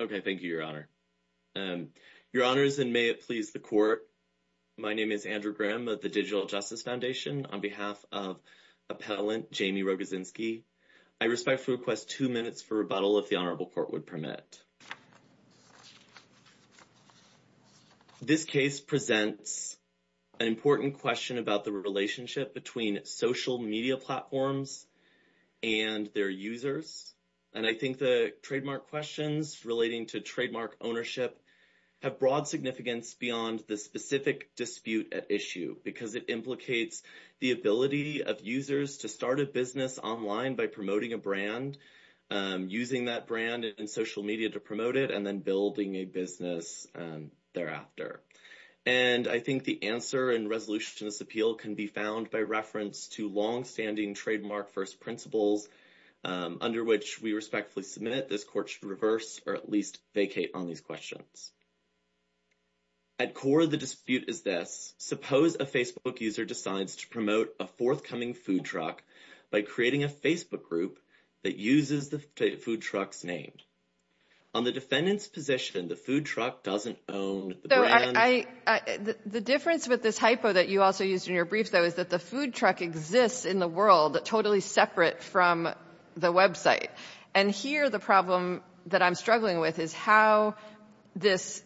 Okay, thank you, Your Honor. Your Honors, and may it please the Court, my name is Andrew Graham of the Digital Justice Foundation on behalf of Appellant Jamie Rogozinski. I respectfully request two minutes for rebuttal if the Honorable Court would permit. This case presents an important question about the relationship between social media platforms and their users. And I think the trademark questions relating to trademark ownership have broad significance beyond the specific dispute at issue because it implicates the ability of users to start a business online by promoting a brand, using that brand in social media to promote it, and then building a business thereafter. And I think the answer in resolution to this appeal can be found by reference to long-standing trademark first principles under which we respectfully submit this Court should reverse or at least vacate on these questions. At core of the dispute is this. Suppose a Facebook user decides to promote a forthcoming food truck by creating a Facebook group that uses the food truck's name. On the defendant's position, the food truck doesn't own the brand? The difference with this hypo that you also used in your brief, though, is that the food truck exists in the world totally separate from the website. And here the problem that I'm struggling with is how this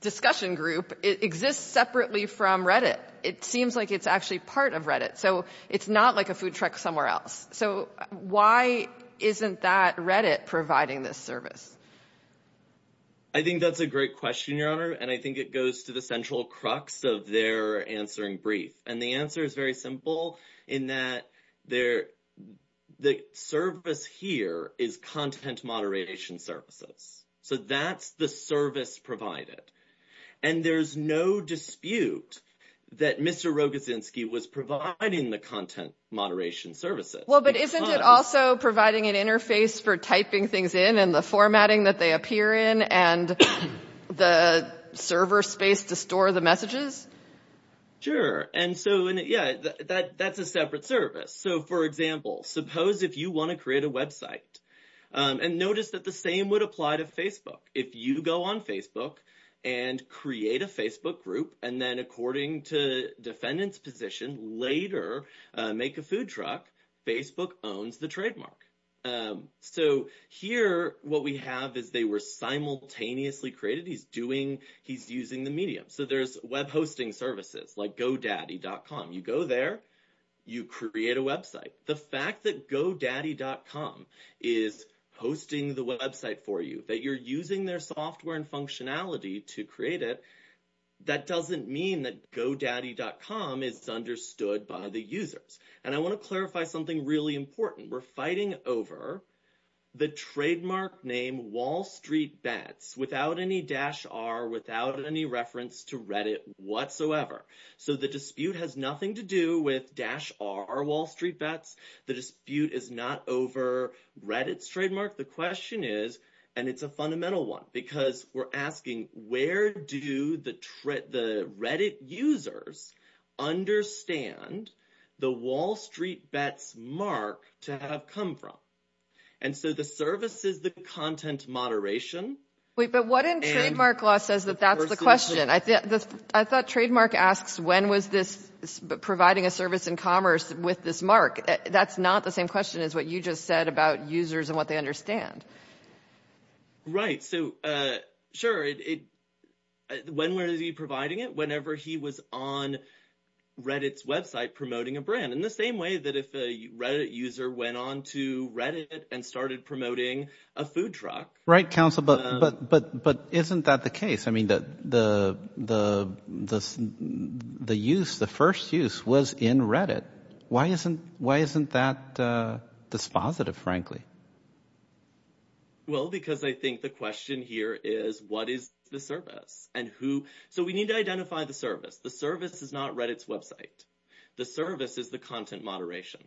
discussion group exists separately from Reddit. It seems like it's actually part of Reddit. So it's not like a food providing this service. I think that's a great question, Your Honor. And I think it goes to the central crux of their answering brief. And the answer is very simple in that the service here is content moderation services. So that's the service provided. And there's no dispute that Mr. Rogozinski was providing the content moderation services. Well, but isn't it also providing an interface for typing things in and the formatting that they appear in and the server space to store the messages? Sure. And so, yeah, that's a separate service. So, for example, suppose if you want to create a website, and notice that the same would apply to Facebook. If you go on Facebook and create a Facebook group, and then according to defendant's later make a food truck, Facebook owns the trademark. So here what we have is they were simultaneously created. He's using the medium. So there's web hosting services like godaddy.com. You go there, you create a website. The fact that godaddy.com is hosting the website for you, that you're using their software and functionality to create it, that doesn't mean that godaddy.com is understood by the users. And I want to clarify something really important. We're fighting over the trademark name WallStreetBets without any dash R, without any reference to Reddit whatsoever. So the dispute has nothing to do with dash R WallStreetBets. The dispute is not over Reddit's trademark. The question is, and it's a fundamental one, because we're asking, where do the Reddit users understand the WallStreetBets mark to have come from? And so the service is the content moderation. Wait, but what in trademark law says that that's the question? I thought trademark asks, when was this providing a service in commerce with this mark? That's not the same question as what you just said about users and what they understand. Right. So sure. When was he providing it? Whenever he was on Reddit's website promoting a brand in the same way that if a Reddit user went on to Reddit and started promoting a food truck. Right, counsel. But isn't that the case? I mean, the first use was in Reddit. Why isn't that dispositive, frankly? Well, because I think the question here is, what is the service? And who, so we need to identify the service. The service is not Reddit's website. The service is the content moderation.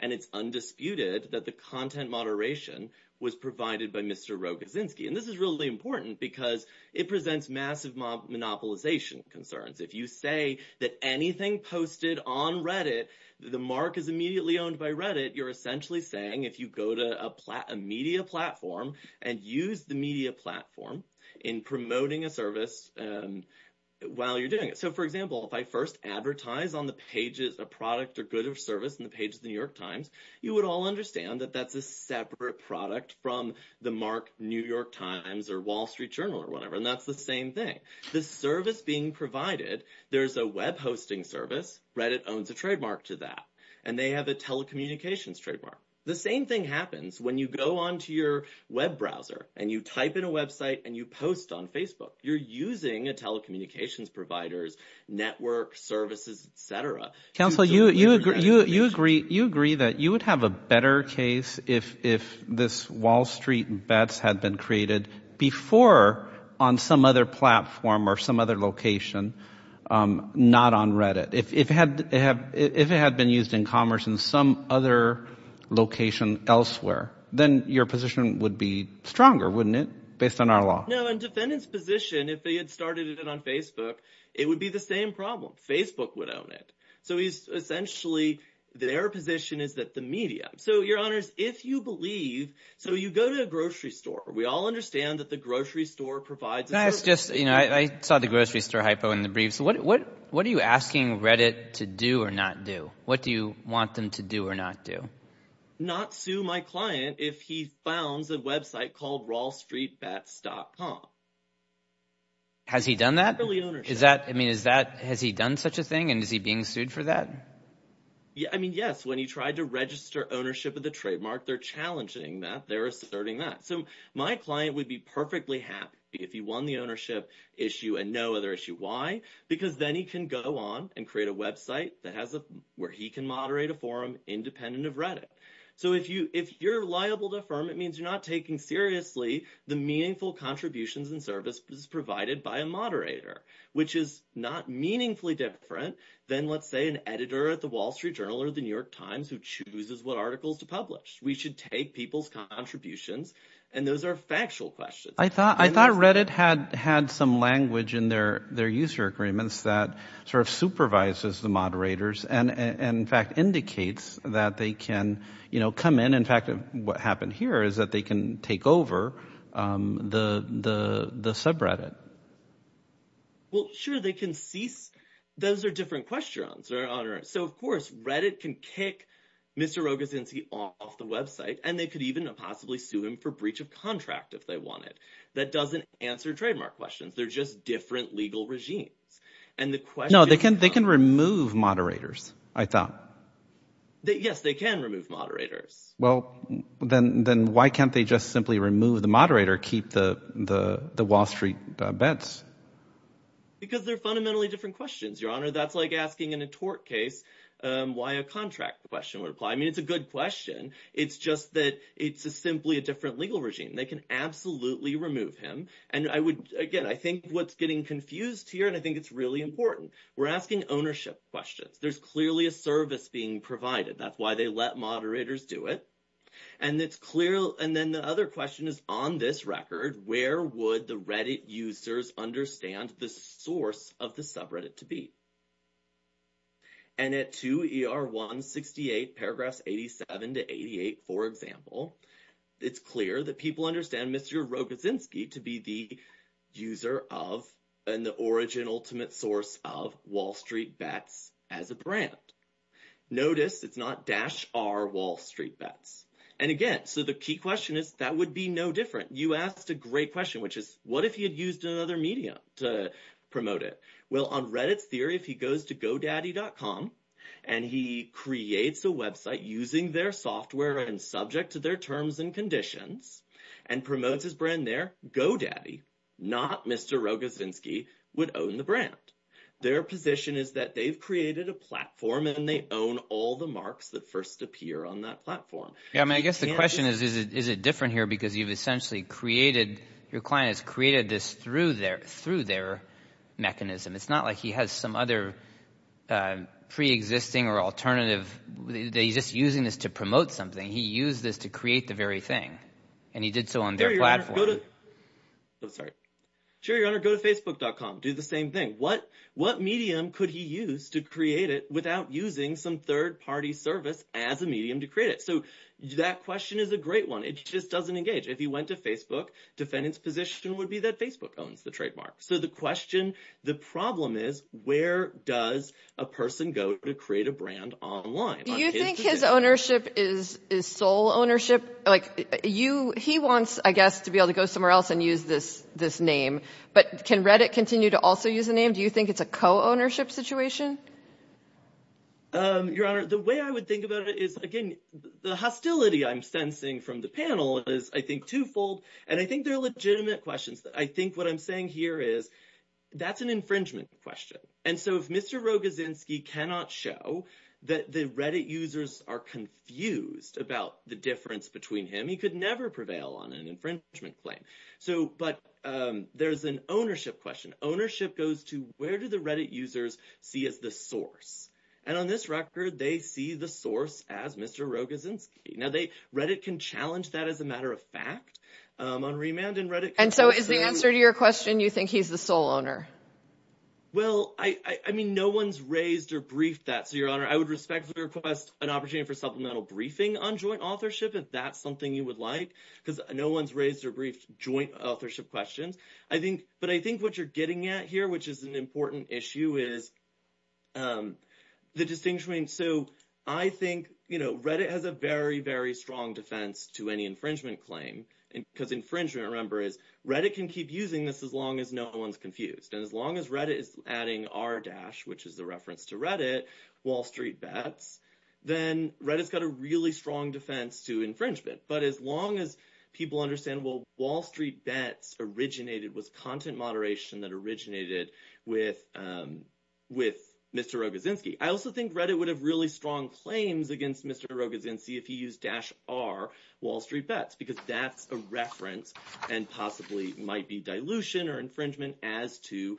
And it's undisputed that the content moderation was provided by Mr. Rogozinski. And this is really important because it presents massive monopolization concerns. If you say that anything posted on Reddit, the mark is immediately owned by Reddit. You're essentially saying if you go to a media platform and use the media platform in promoting a service while you're doing it. So for example, if I first advertise on the pages, a product or good of service and the page of the New York times, you would all understand that that's a separate product from the mark New York times or wall street journal or whatever. And that's the same thing. The service being provided, there's a web hosting service, Reddit owns a trademark to that, and they have a telecommunications trademark. The same thing happens when you go onto your web browser and you type in a website and you post on Facebook, you're using a telecommunications providers, network services, etc. Council, you agree, you agree that you would have a better case if, if this wall street bets had been created before on some other platform or some other location, um, not on Reddit, if, if it had, it had, if it had been used in commerce in some other location elsewhere, then your position would be stronger, wouldn't it? Based on our law. No. And defendant's position, if they had started it on Facebook, it would be the same problem. Facebook would own it. So he's essentially, their position is that the media, so your honors, if you believe, so you go to a grocery store, we all understand that the grocery store provides. Can I ask just, you know, I saw the grocery store hypo in the briefs. What, what, what are you asking Reddit to do or not do? What do you want them to do or not do? Not sue my client if he founds a website called wallstreetbets.com. Has he done that? Is that, I mean, is that, has he done such a thing and is he being sued for that? Yeah. I mean, yes. When he tried to register ownership of the trademark, they're challenging that they're asserting that. So my client would be perfectly happy if he won the ownership issue and no other issue. Why? Because then he can go on and create a website that has a, where he can moderate a forum independent of Reddit. So if you, if you're liable to affirm, it means you're not taking seriously the meaningful contributions and services provided by a moderator, which is not meaningfully different than let's say an editor at the wall street journal or the New York times who chooses what articles to publish. We should take people's contributions and those are factual questions. I thought, I thought Reddit had had some language in their, their user agreements that sort of supervises the moderators and, and in fact indicates that they can, you know, come in. In fact, what happened here is that they can take over, um, the, the, the subreddit. Well, sure. They can cease. Those are different questions. So of course Reddit can kick Mr. Rogozinsky off the website and they could even possibly sue him for breach of contract. If they want it, that doesn't answer trademark questions. They're just different legal regimes and the question, no, they can, they can remove moderators. I thought that yes, they can remove moderators. Well then, then why can't they just simply remove the moderator? Keep the, the, the wall street bets because they're fundamentally different questions, your honor. That's like asking in a tort case, um, why a contract question would apply. I mean, it's a good question. It's just that it's a simply a different legal regime. They can absolutely remove him. And I would, again, I think what's getting confused here and I think it's really important. We're asking ownership questions. There's clearly a service being provided. That's why they let moderators do it. And it's clear. And then the other question is on this record, where would the Reddit users understand the source of the subreddit to be? And at 2ER168, paragraphs 87 to 88, for example, it's clear that people understand Mr. Rogozinsky to be the user of, and the origin, ultimate source of wall street bets as a brand. Notice it's not dash R wall street bets. And again, so the key question is that would be no different. You asked a great question, which is what if he had used another media to promote it? Well on Reddit's theory, if he goes to godaddy.com and he creates a website using their software and subject to their terms and conditions and promotes his brand there, godaddy, not Mr. Rogozinsky, would own the brand. Their position is that they've created a platform and they own all the marks that first appear on that platform. I mean, I guess the question is, is it different here? Because you've essentially created, your client has created this through their mechanism. It's not like he has some other preexisting or alternative. They just using this to promote something. He used this to create the very thing. And he did so on their platform. I'm sorry. Go to facebook.com, do the same thing. What medium could he use to create it without using some third party service as a medium to create it? So that question is a great one. It just doesn't engage. If he went to Facebook, defendant's position would be that Facebook owns the trademark. So the question, the problem is, where does a person go to create a brand online? Do you think his ownership is sole ownership? He wants, I guess, to be able to go somewhere else and use this name. But can Reddit continue to also use the name? Do you think it's a co-ownership situation? Your Honor, the way I would think about it is, again, the hostility I'm sensing from the panel is, I think, twofold. And I think they're legitimate questions. I think what I'm saying here is that's an infringement question. And so if Mr. Rogozinski cannot show that the Reddit users are confused about the difference between him, he could never prevail on an infringement claim. But there's an ownership question. Ownership goes to where do the Reddit users see as the source? And on this record, they see the source as Mr. Rogozinski. Now, Reddit can challenge that as a matter of fact on remand and Reddit- And so is the answer to your question, you think he's the sole owner? Well, I mean, no one's raised or briefed that. So, Your Honor, I would respectfully request an opportunity for supplemental briefing on joint authorship, if that's something you would like, because no one's raised or briefed joint authorship questions. But I think what you're getting at here, which is an important issue, is the distinction between... So I think Reddit has a very, very strong defense to any infringement claim, because infringement, remember, is Reddit can keep using this as long as no one's confused. And as long as Reddit is adding r-dash, which is the reference to Reddit, WallStreetBets, then Reddit's got a really strong defense to infringement. But as long as people understand, well, WallStreetBets originated with content moderation that originated with Mr. Rogozinski. I also think Reddit would have really strong claims against Mr. Rogozinski if he used dash r WallStreetBets, because that's a reference and possibly might be dilution or infringement as to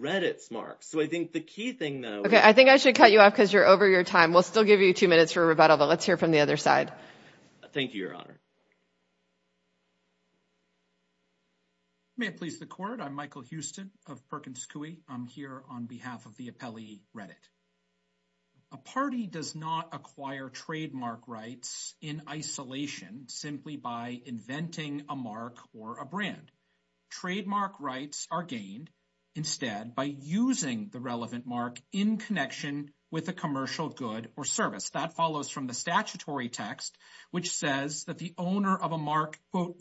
Reddit's mark. So I think the key thing, though... Okay, I think I should cut you off because you're over your time. We'll still give you two minutes for rebuttal, but let's hear from the other side. Thank you, Your Honor. May it please the court. I'm Michael Houston of Perkins Coie. I'm here on behalf of the appellee Reddit. A party does not acquire trademark rights in isolation simply by inventing a mark or a brand. Trademark rights are gained instead by using the relevant mark in connection with a commercial good or service. That follows from the statutory text which says that the owner of a mark, quote,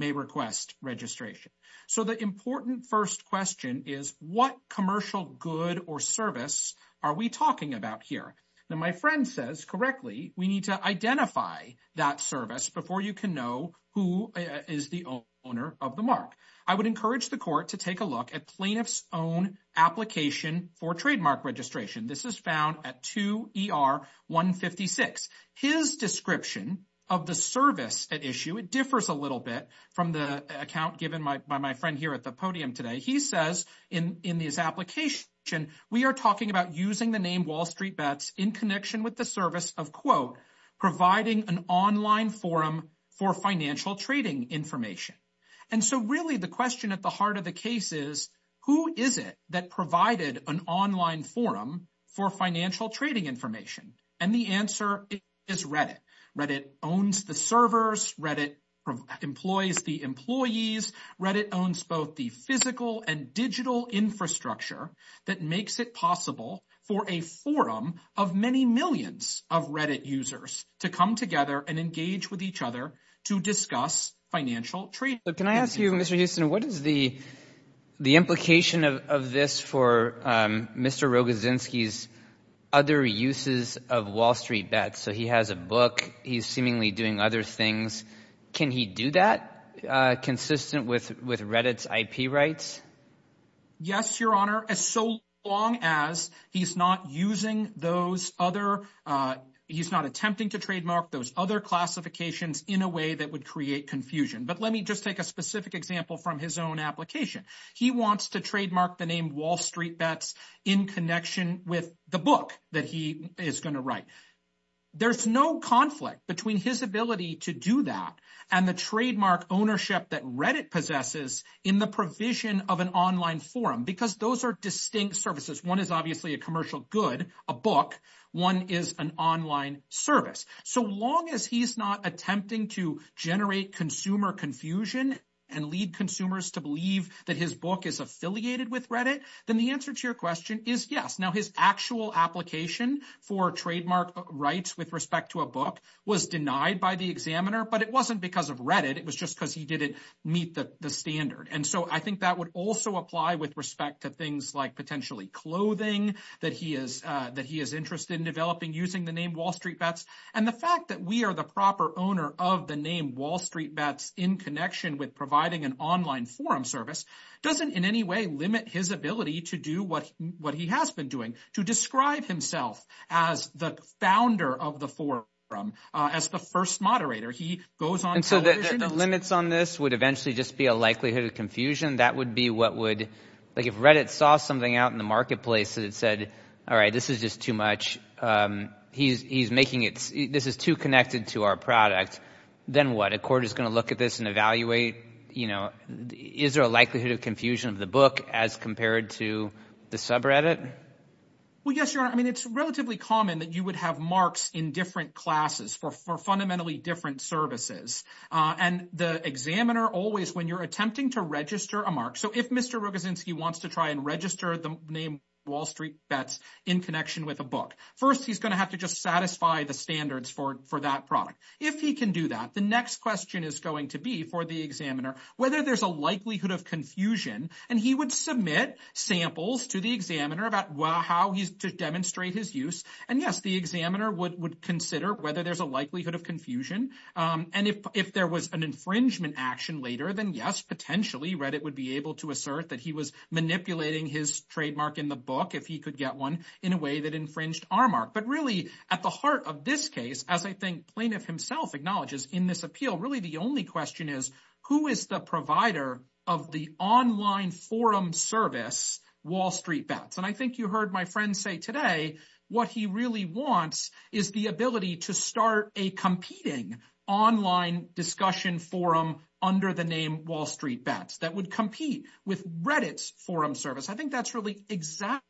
may request registration. So the important first question is what commercial good or service are we talking about here? Now, my friend says correctly we need to identify that service before you can know who is the owner of the mark. I would encourage the court to take a look at plaintiff's own application for trademark registration. This is found at 2 ER 156. His description of the service at issue, it differs a little bit from the account given by my friend here at the podium today. He says in this application we are talking about using the name Wall Street Bets in connection with the service of, quote, providing an online forum for financial trading information. And so really the question at the heart of the case is who is it that provided an online forum for financial trading information? And the answer is Reddit. Reddit owns the servers. Reddit employs the employees. Reddit owns both the physical and digital infrastructure that makes it possible for a forum of many millions of Reddit users to come together and engage with each other to discuss financial trade. But can I ask you, Mr. Houston, what is the implication of this for Mr. Rogozinski's other uses of Wall Street Bets? So he has a book. He's seemingly doing other things. Can he do that consistent with with Reddit's IP rights? Yes, your honor, as so long as he's not using those other, he's not attempting to trademark those other classifications in a way that would create confusion. But let me just take a specific example from his own application. He wants to trademark the name Wall Street Bets in connection with the book that he is going to write. There's no conflict between his ability to do that and the trademark ownership that Reddit possesses in the provision of an online forum, because those are distinct services. One is obviously a commercial good, a book. One is an online service. So long as he's not attempting to generate consumer confusion and lead consumers to believe that his book is affiliated with Reddit, then the answer to your question is yes. Now, his actual application for trademark rights with respect to a book was denied by the examiner, but it wasn't because of Reddit. It was just because he didn't meet the standard. And so I think that would also apply with respect to things like potentially clothing that he is that he is interested in developing using the name Wall Street Bets. And the fact that we are the proper owner of the name Wall Street Bets in connection with providing an online forum service doesn't in any way limit his ability to do what he has been doing, to describe himself as the founder of the forum, as the first moderator. He goes on television. And so the limits on this would eventually just be a likelihood of confusion. That would be what would, like if Reddit saw something out in the marketplace that said, all right, this is just too much. He's making it this is too connected to our product. Then what a court is going to look at this and evaluate, you know, is there a likelihood of confusion of the book as compared to the subreddit? Well, yes, your honor. I mean, it's relatively common that you would have marks in different classes for fundamentally different services. And the examiner always when you're attempting to register a mark. So if Mr. wants to try and register the name Wall Street Bets in connection with a book, first, he's going to have to just satisfy the standards for that product. If he can do that, the next question is going to be for the examiner whether there's a likelihood of confusion. And he would submit samples to the examiner about how he's to demonstrate his use. And yes, the examiner would consider whether there's a likelihood of confusion. And if there was an action later than yes, potentially read it would be able to assert that he was manipulating his trademark in the book if he could get one in a way that infringed our mark. But really, at the heart of this case, as I think plaintiff himself acknowledges in this appeal, really, the only question is, who is the provider of the online forum service Wall Street Bets? And I think you heard my friend say today, what he really wants is the ability to start a competing online discussion forum under the name Wall Street Bets that would compete with Reddit's forum service. I think that's really exactly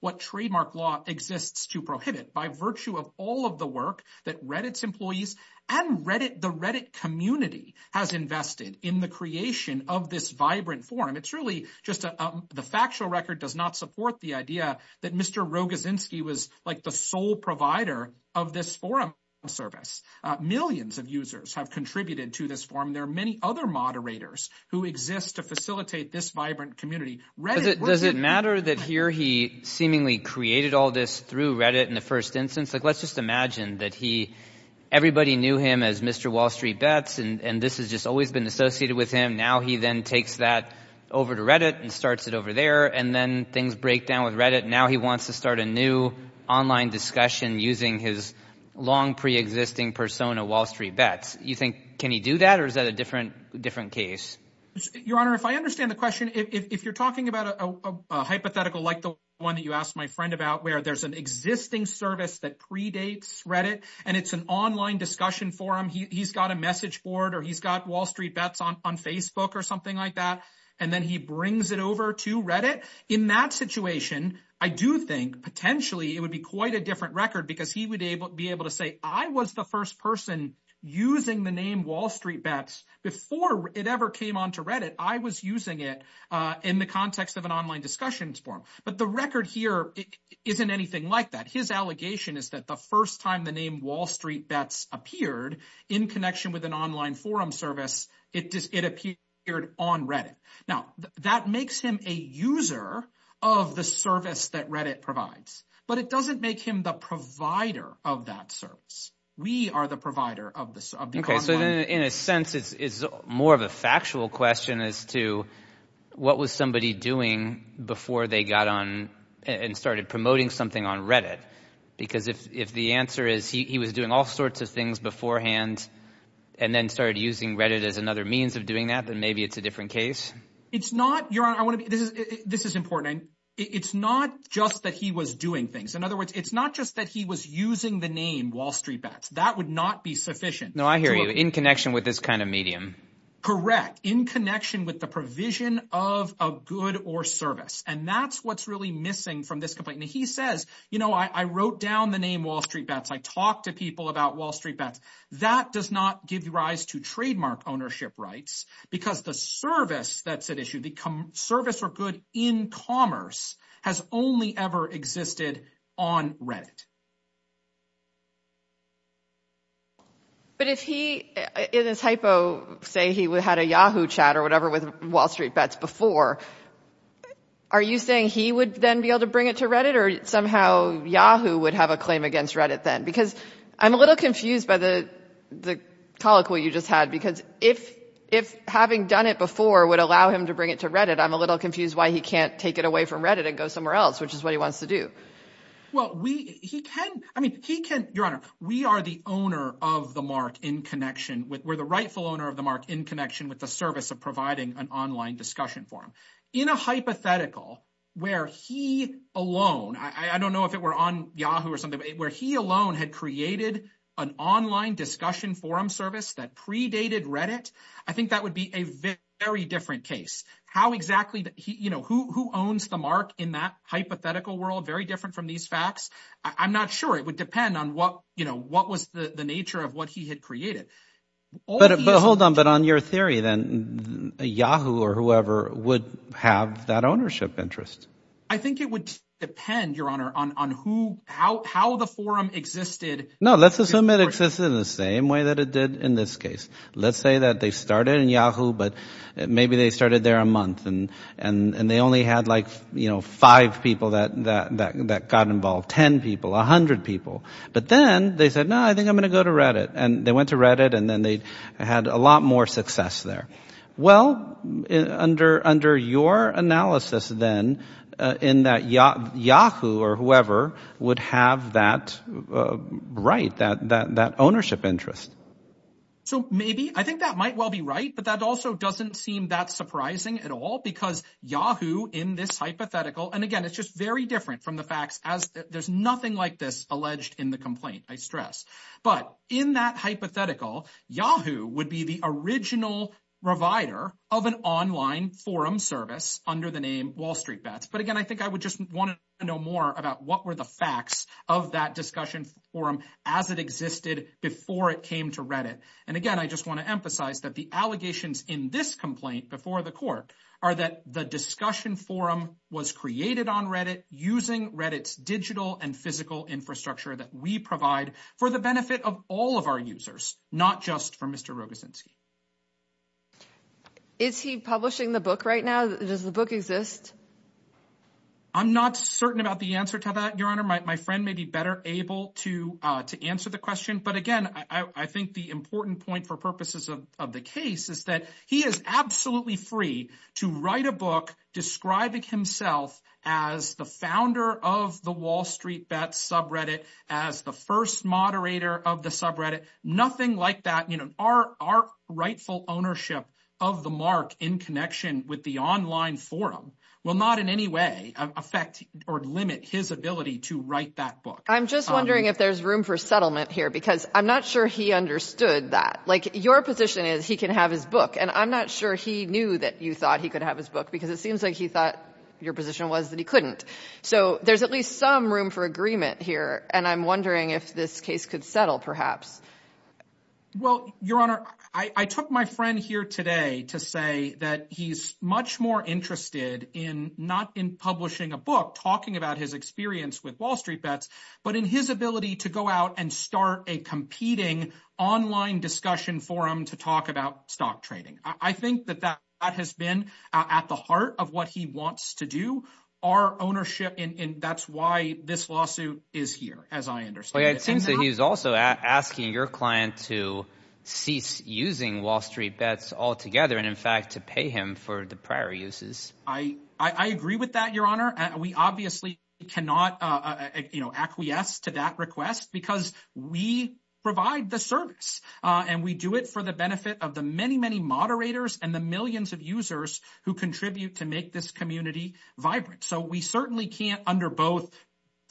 what trademark law exists to prohibit by virtue of all of the work that Reddit's employees and Reddit, the Reddit community has invested in the creation of this vibrant forum. It's really just the factual record does not support the idea that Mr. Rogozinski was like the sole provider of this forum service. Millions of users have contributed to this forum. There are many other moderators who exist to facilitate this vibrant community. Does it matter that here he seemingly created all this through Reddit in the first instance, like, let's just imagine that he, everybody knew him as Mr. Wall Street Bets. And this has just always been associated with him. Now he then takes that over to Reddit and starts it over there. And then things break down with Reddit. Now he wants to start a new online discussion using his long pre-existing persona, Wall Street Bets. You think, can he do that? Or is that a different, different case? Your honor, if I understand the question, if you're talking about a hypothetical, like the one that you asked my friend about where there's an existing service that predates Reddit, and it's an online discussion forum, he's got a message board, or he's got Wall Street Bets on Facebook or something like that. And then he brings it over to Reddit. In that situation, I do think potentially it would be quite a different record because he would be able to say, I was the first person using the name Wall Street Bets before it ever came onto Reddit. I was using it in the context of an online discussion forum. But the record here isn't anything like that. His allegation is that the first time the name Wall Street Bets appeared in connection with an online forum service, it appeared on Reddit. Now that makes him a user of the service that Reddit provides, but it doesn't make him the provider of that service. We are the provider of this. Okay, so in a sense, it's more of a factual question as to what was somebody doing before they got on and started promoting something on Reddit? Because if the answer is he was doing all sorts of things beforehand, and then started using Reddit as another means of doing that, then maybe it's a different case. It's not, Your Honor, this is important. It's not just that he was doing things. In other words, it's not just that he was using the name Wall Street Bets. That would not be sufficient. No, I hear you, in connection with this kind of medium. Correct, in connection with the provision of a good or service. And that's what's really missing from this complaint. He says, you know, I wrote down the name Wall Street Bets. I talked to people about Wall Street Bets. That does not give rise to trademark ownership rights, because the service that's at issue, the service for good in commerce, has only ever existed on Reddit. But if he, in his hypo, say he had a Yahoo chat or whatever with Wall Street Bets before, are you saying he would then be able to bring it to Reddit or somehow Yahoo would have a claim against Reddit then? Because I'm a little confused by the colloquy you just had, because if having done it before would allow him to bring it to Reddit, I'm a little confused why he can't take it away from Reddit and go somewhere else, which is what he wants to do. Well, we, he can, I mean, he can, Your Honor, we are the owner of the mark in connection with, we're the rightful owner of the mark in connection with the service of providing an online discussion forum. In a hypothetical where he alone, I don't know if it were on Yahoo or something, where he alone had created an online discussion forum service that predated Reddit, I think that would be a very different case. How exactly he, you know, who owns the mark in that hypothetical world, very different from these facts. I'm not sure. It would depend on what, you know, what was the nature of what he had created. But hold on, but on your theory then, Yahoo or whoever would have that ownership interest. I think it would depend, Your Honor, on who, how, how the forum existed. No, let's assume it exists in the same way that it did in this case. Let's say that they started in Yahoo, but maybe they started there a month and, and they only had like, you know, five people that, that, that got involved, 10 people, a hundred people. But then they said, no, I think I'm going to go to Reddit. And they went to Reddit and then they had a lot more success there. Well, under, under your analysis, then, in that Yahoo or whoever would have that right, that, that, that ownership interest. So maybe, I think that might well be right, but that also doesn't seem that surprising at all, because Yahoo in this hypothetical, and again, it's just very different from the facts as there's nothing like this alleged in the complaint, I stress. But in that hypothetical, Yahoo would be the original provider of an online forum service under the name WallStreetBets. But again, I think I would just want to know more about what were the facts of that discussion forum as it existed before it came to Reddit. And again, I just want to emphasize that the allegations in this complaint before the court are that the discussion forum was created on Reddit using Reddit's digital and physical infrastructure that we provide for the benefit of all of our users, not just for Mr. Rogozinski. Is he publishing the book right now? Does the book exist? I'm not certain about the answer to that, Your Honor. My friend may be better able to answer the question. But again, I think the important point for purposes of the case is that he is absolutely free to write a book describing himself as the founder of the WallStreetBets subreddit, as the first moderator of the subreddit, nothing like that. Our rightful ownership of the mark in connection with the online forum will not in any way affect or limit his ability to write that book. I'm just wondering if there's room for settlement here, because I'm not sure he understood that. Like, your position is he can have his book, and I'm not sure he knew that you thought he could have his book because it seems like he thought your position was that he couldn't. So there's at least some room for agreement here. And I'm wondering if this case could settle, perhaps. Well, Your Honor, I took my friend here today to say that he's much more interested in not in publishing a book talking about his experience with WallStreetBets, but in his ability to go out and start a competing online discussion forum to talk about stock trading. I think that that has been at the heart of what he wants to do. Our ownership, and that's why this lawsuit is here, as I understand. It seems that he's also asking your client to cease using WallStreetBets altogether, and in fact, to pay him for the prior uses. I agree with that, Your Honor. We obviously cannot, you know, acquiesce to that request, because we provide the service, and we do it for the benefit of the many, many moderators and the millions of users who contribute to make this community vibrant. So we certainly can't, under both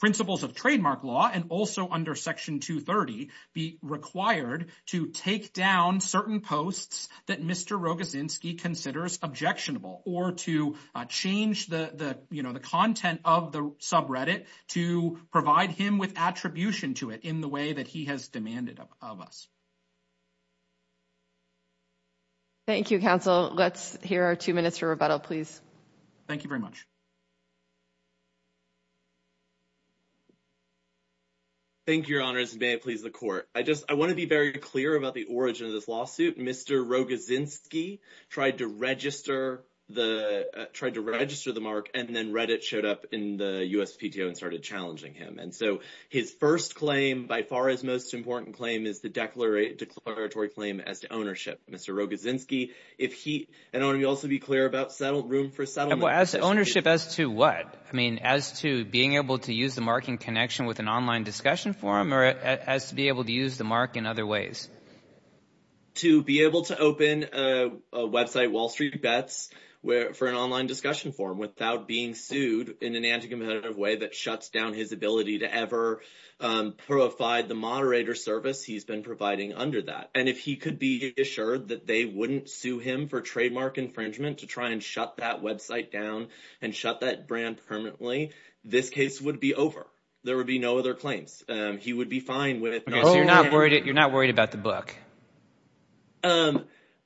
principles of trademark law and also under Section 230, be required to take down certain posts that Mr. Rogozinski considers objectionable, or to change the content of the subreddit to provide him with attribution to it in the way that he has demanded of us. Thank you, counsel. Let's hear our two minutes for rebuttal, please. Thank you very much. Thank you, Your Honors, and may it please the Court. I want to be very clear about the origin of this lawsuit. Mr. Rogozinski tried to register the mark, and then Reddit showed up in the USPTO and started challenging him. And so his first claim, by far his most important claim, is the declaratory claim as to ownership. Mr. Rogozinski, if he—and I want to also be clear about room for settlement— Well, as to ownership, as to what? I mean, as to being able to use the mark in connection with an online discussion forum, or as to be able to use the mark in other ways? To be able to open a website, Wall Street Bets, for an online discussion forum without being sued in an anti-competitive way that shuts down his ability to ever provide the moderator service he's been providing under that. And if he could be assured that they wouldn't sue him for trademark infringement to try and shut that website down and shut that brand permanently, this case would be over. There would be no other claims. He would be fine with— Okay, so you're not worried about the book?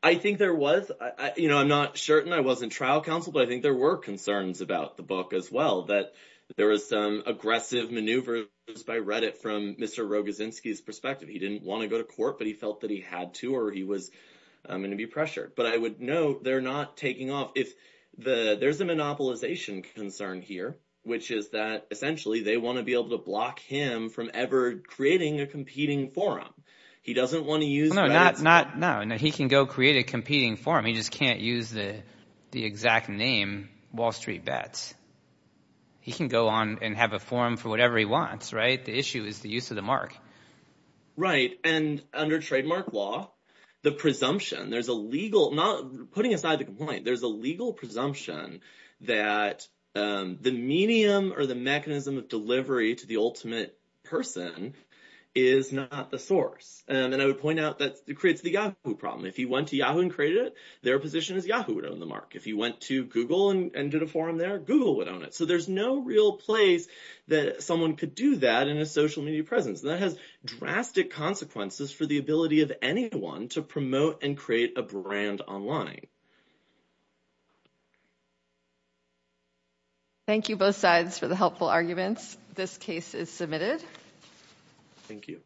I think there was. I'm not certain. I wasn't trial counsel, but I think there were concerns about the book as well, that there was some aggressive maneuvers by Reddit from Mr. Rogozinski's perspective. He didn't want to go to court, but he felt that he had to or he was going to be pressured. But I would note they're not taking off. There's a monopolization concern here, which is that essentially they want to be able to block him from ever creating a competing forum. He doesn't want to use— No, no. He can go create a competing forum. He just can't use the exact name, Wall Street Bets. He can go on and have a forum for whatever he wants, right? The issue is the use of the mark. Right. And under trademark law, the presumption, putting aside the complaint, there's a legal presumption that the medium or the mechanism of delivery to the ultimate person is not the source. And I would point out that it creates the Yahoo problem. If he went to Yahoo and created it, their position is Yahoo would own the mark. If he went to Google and did a forum there, Google would own it. So there's no real place that someone could do that in a social media presence. That has drastic consequences for the ability of anyone to promote and create a brand online. Thank you both sides for the questions. This case is submitted. Thank you.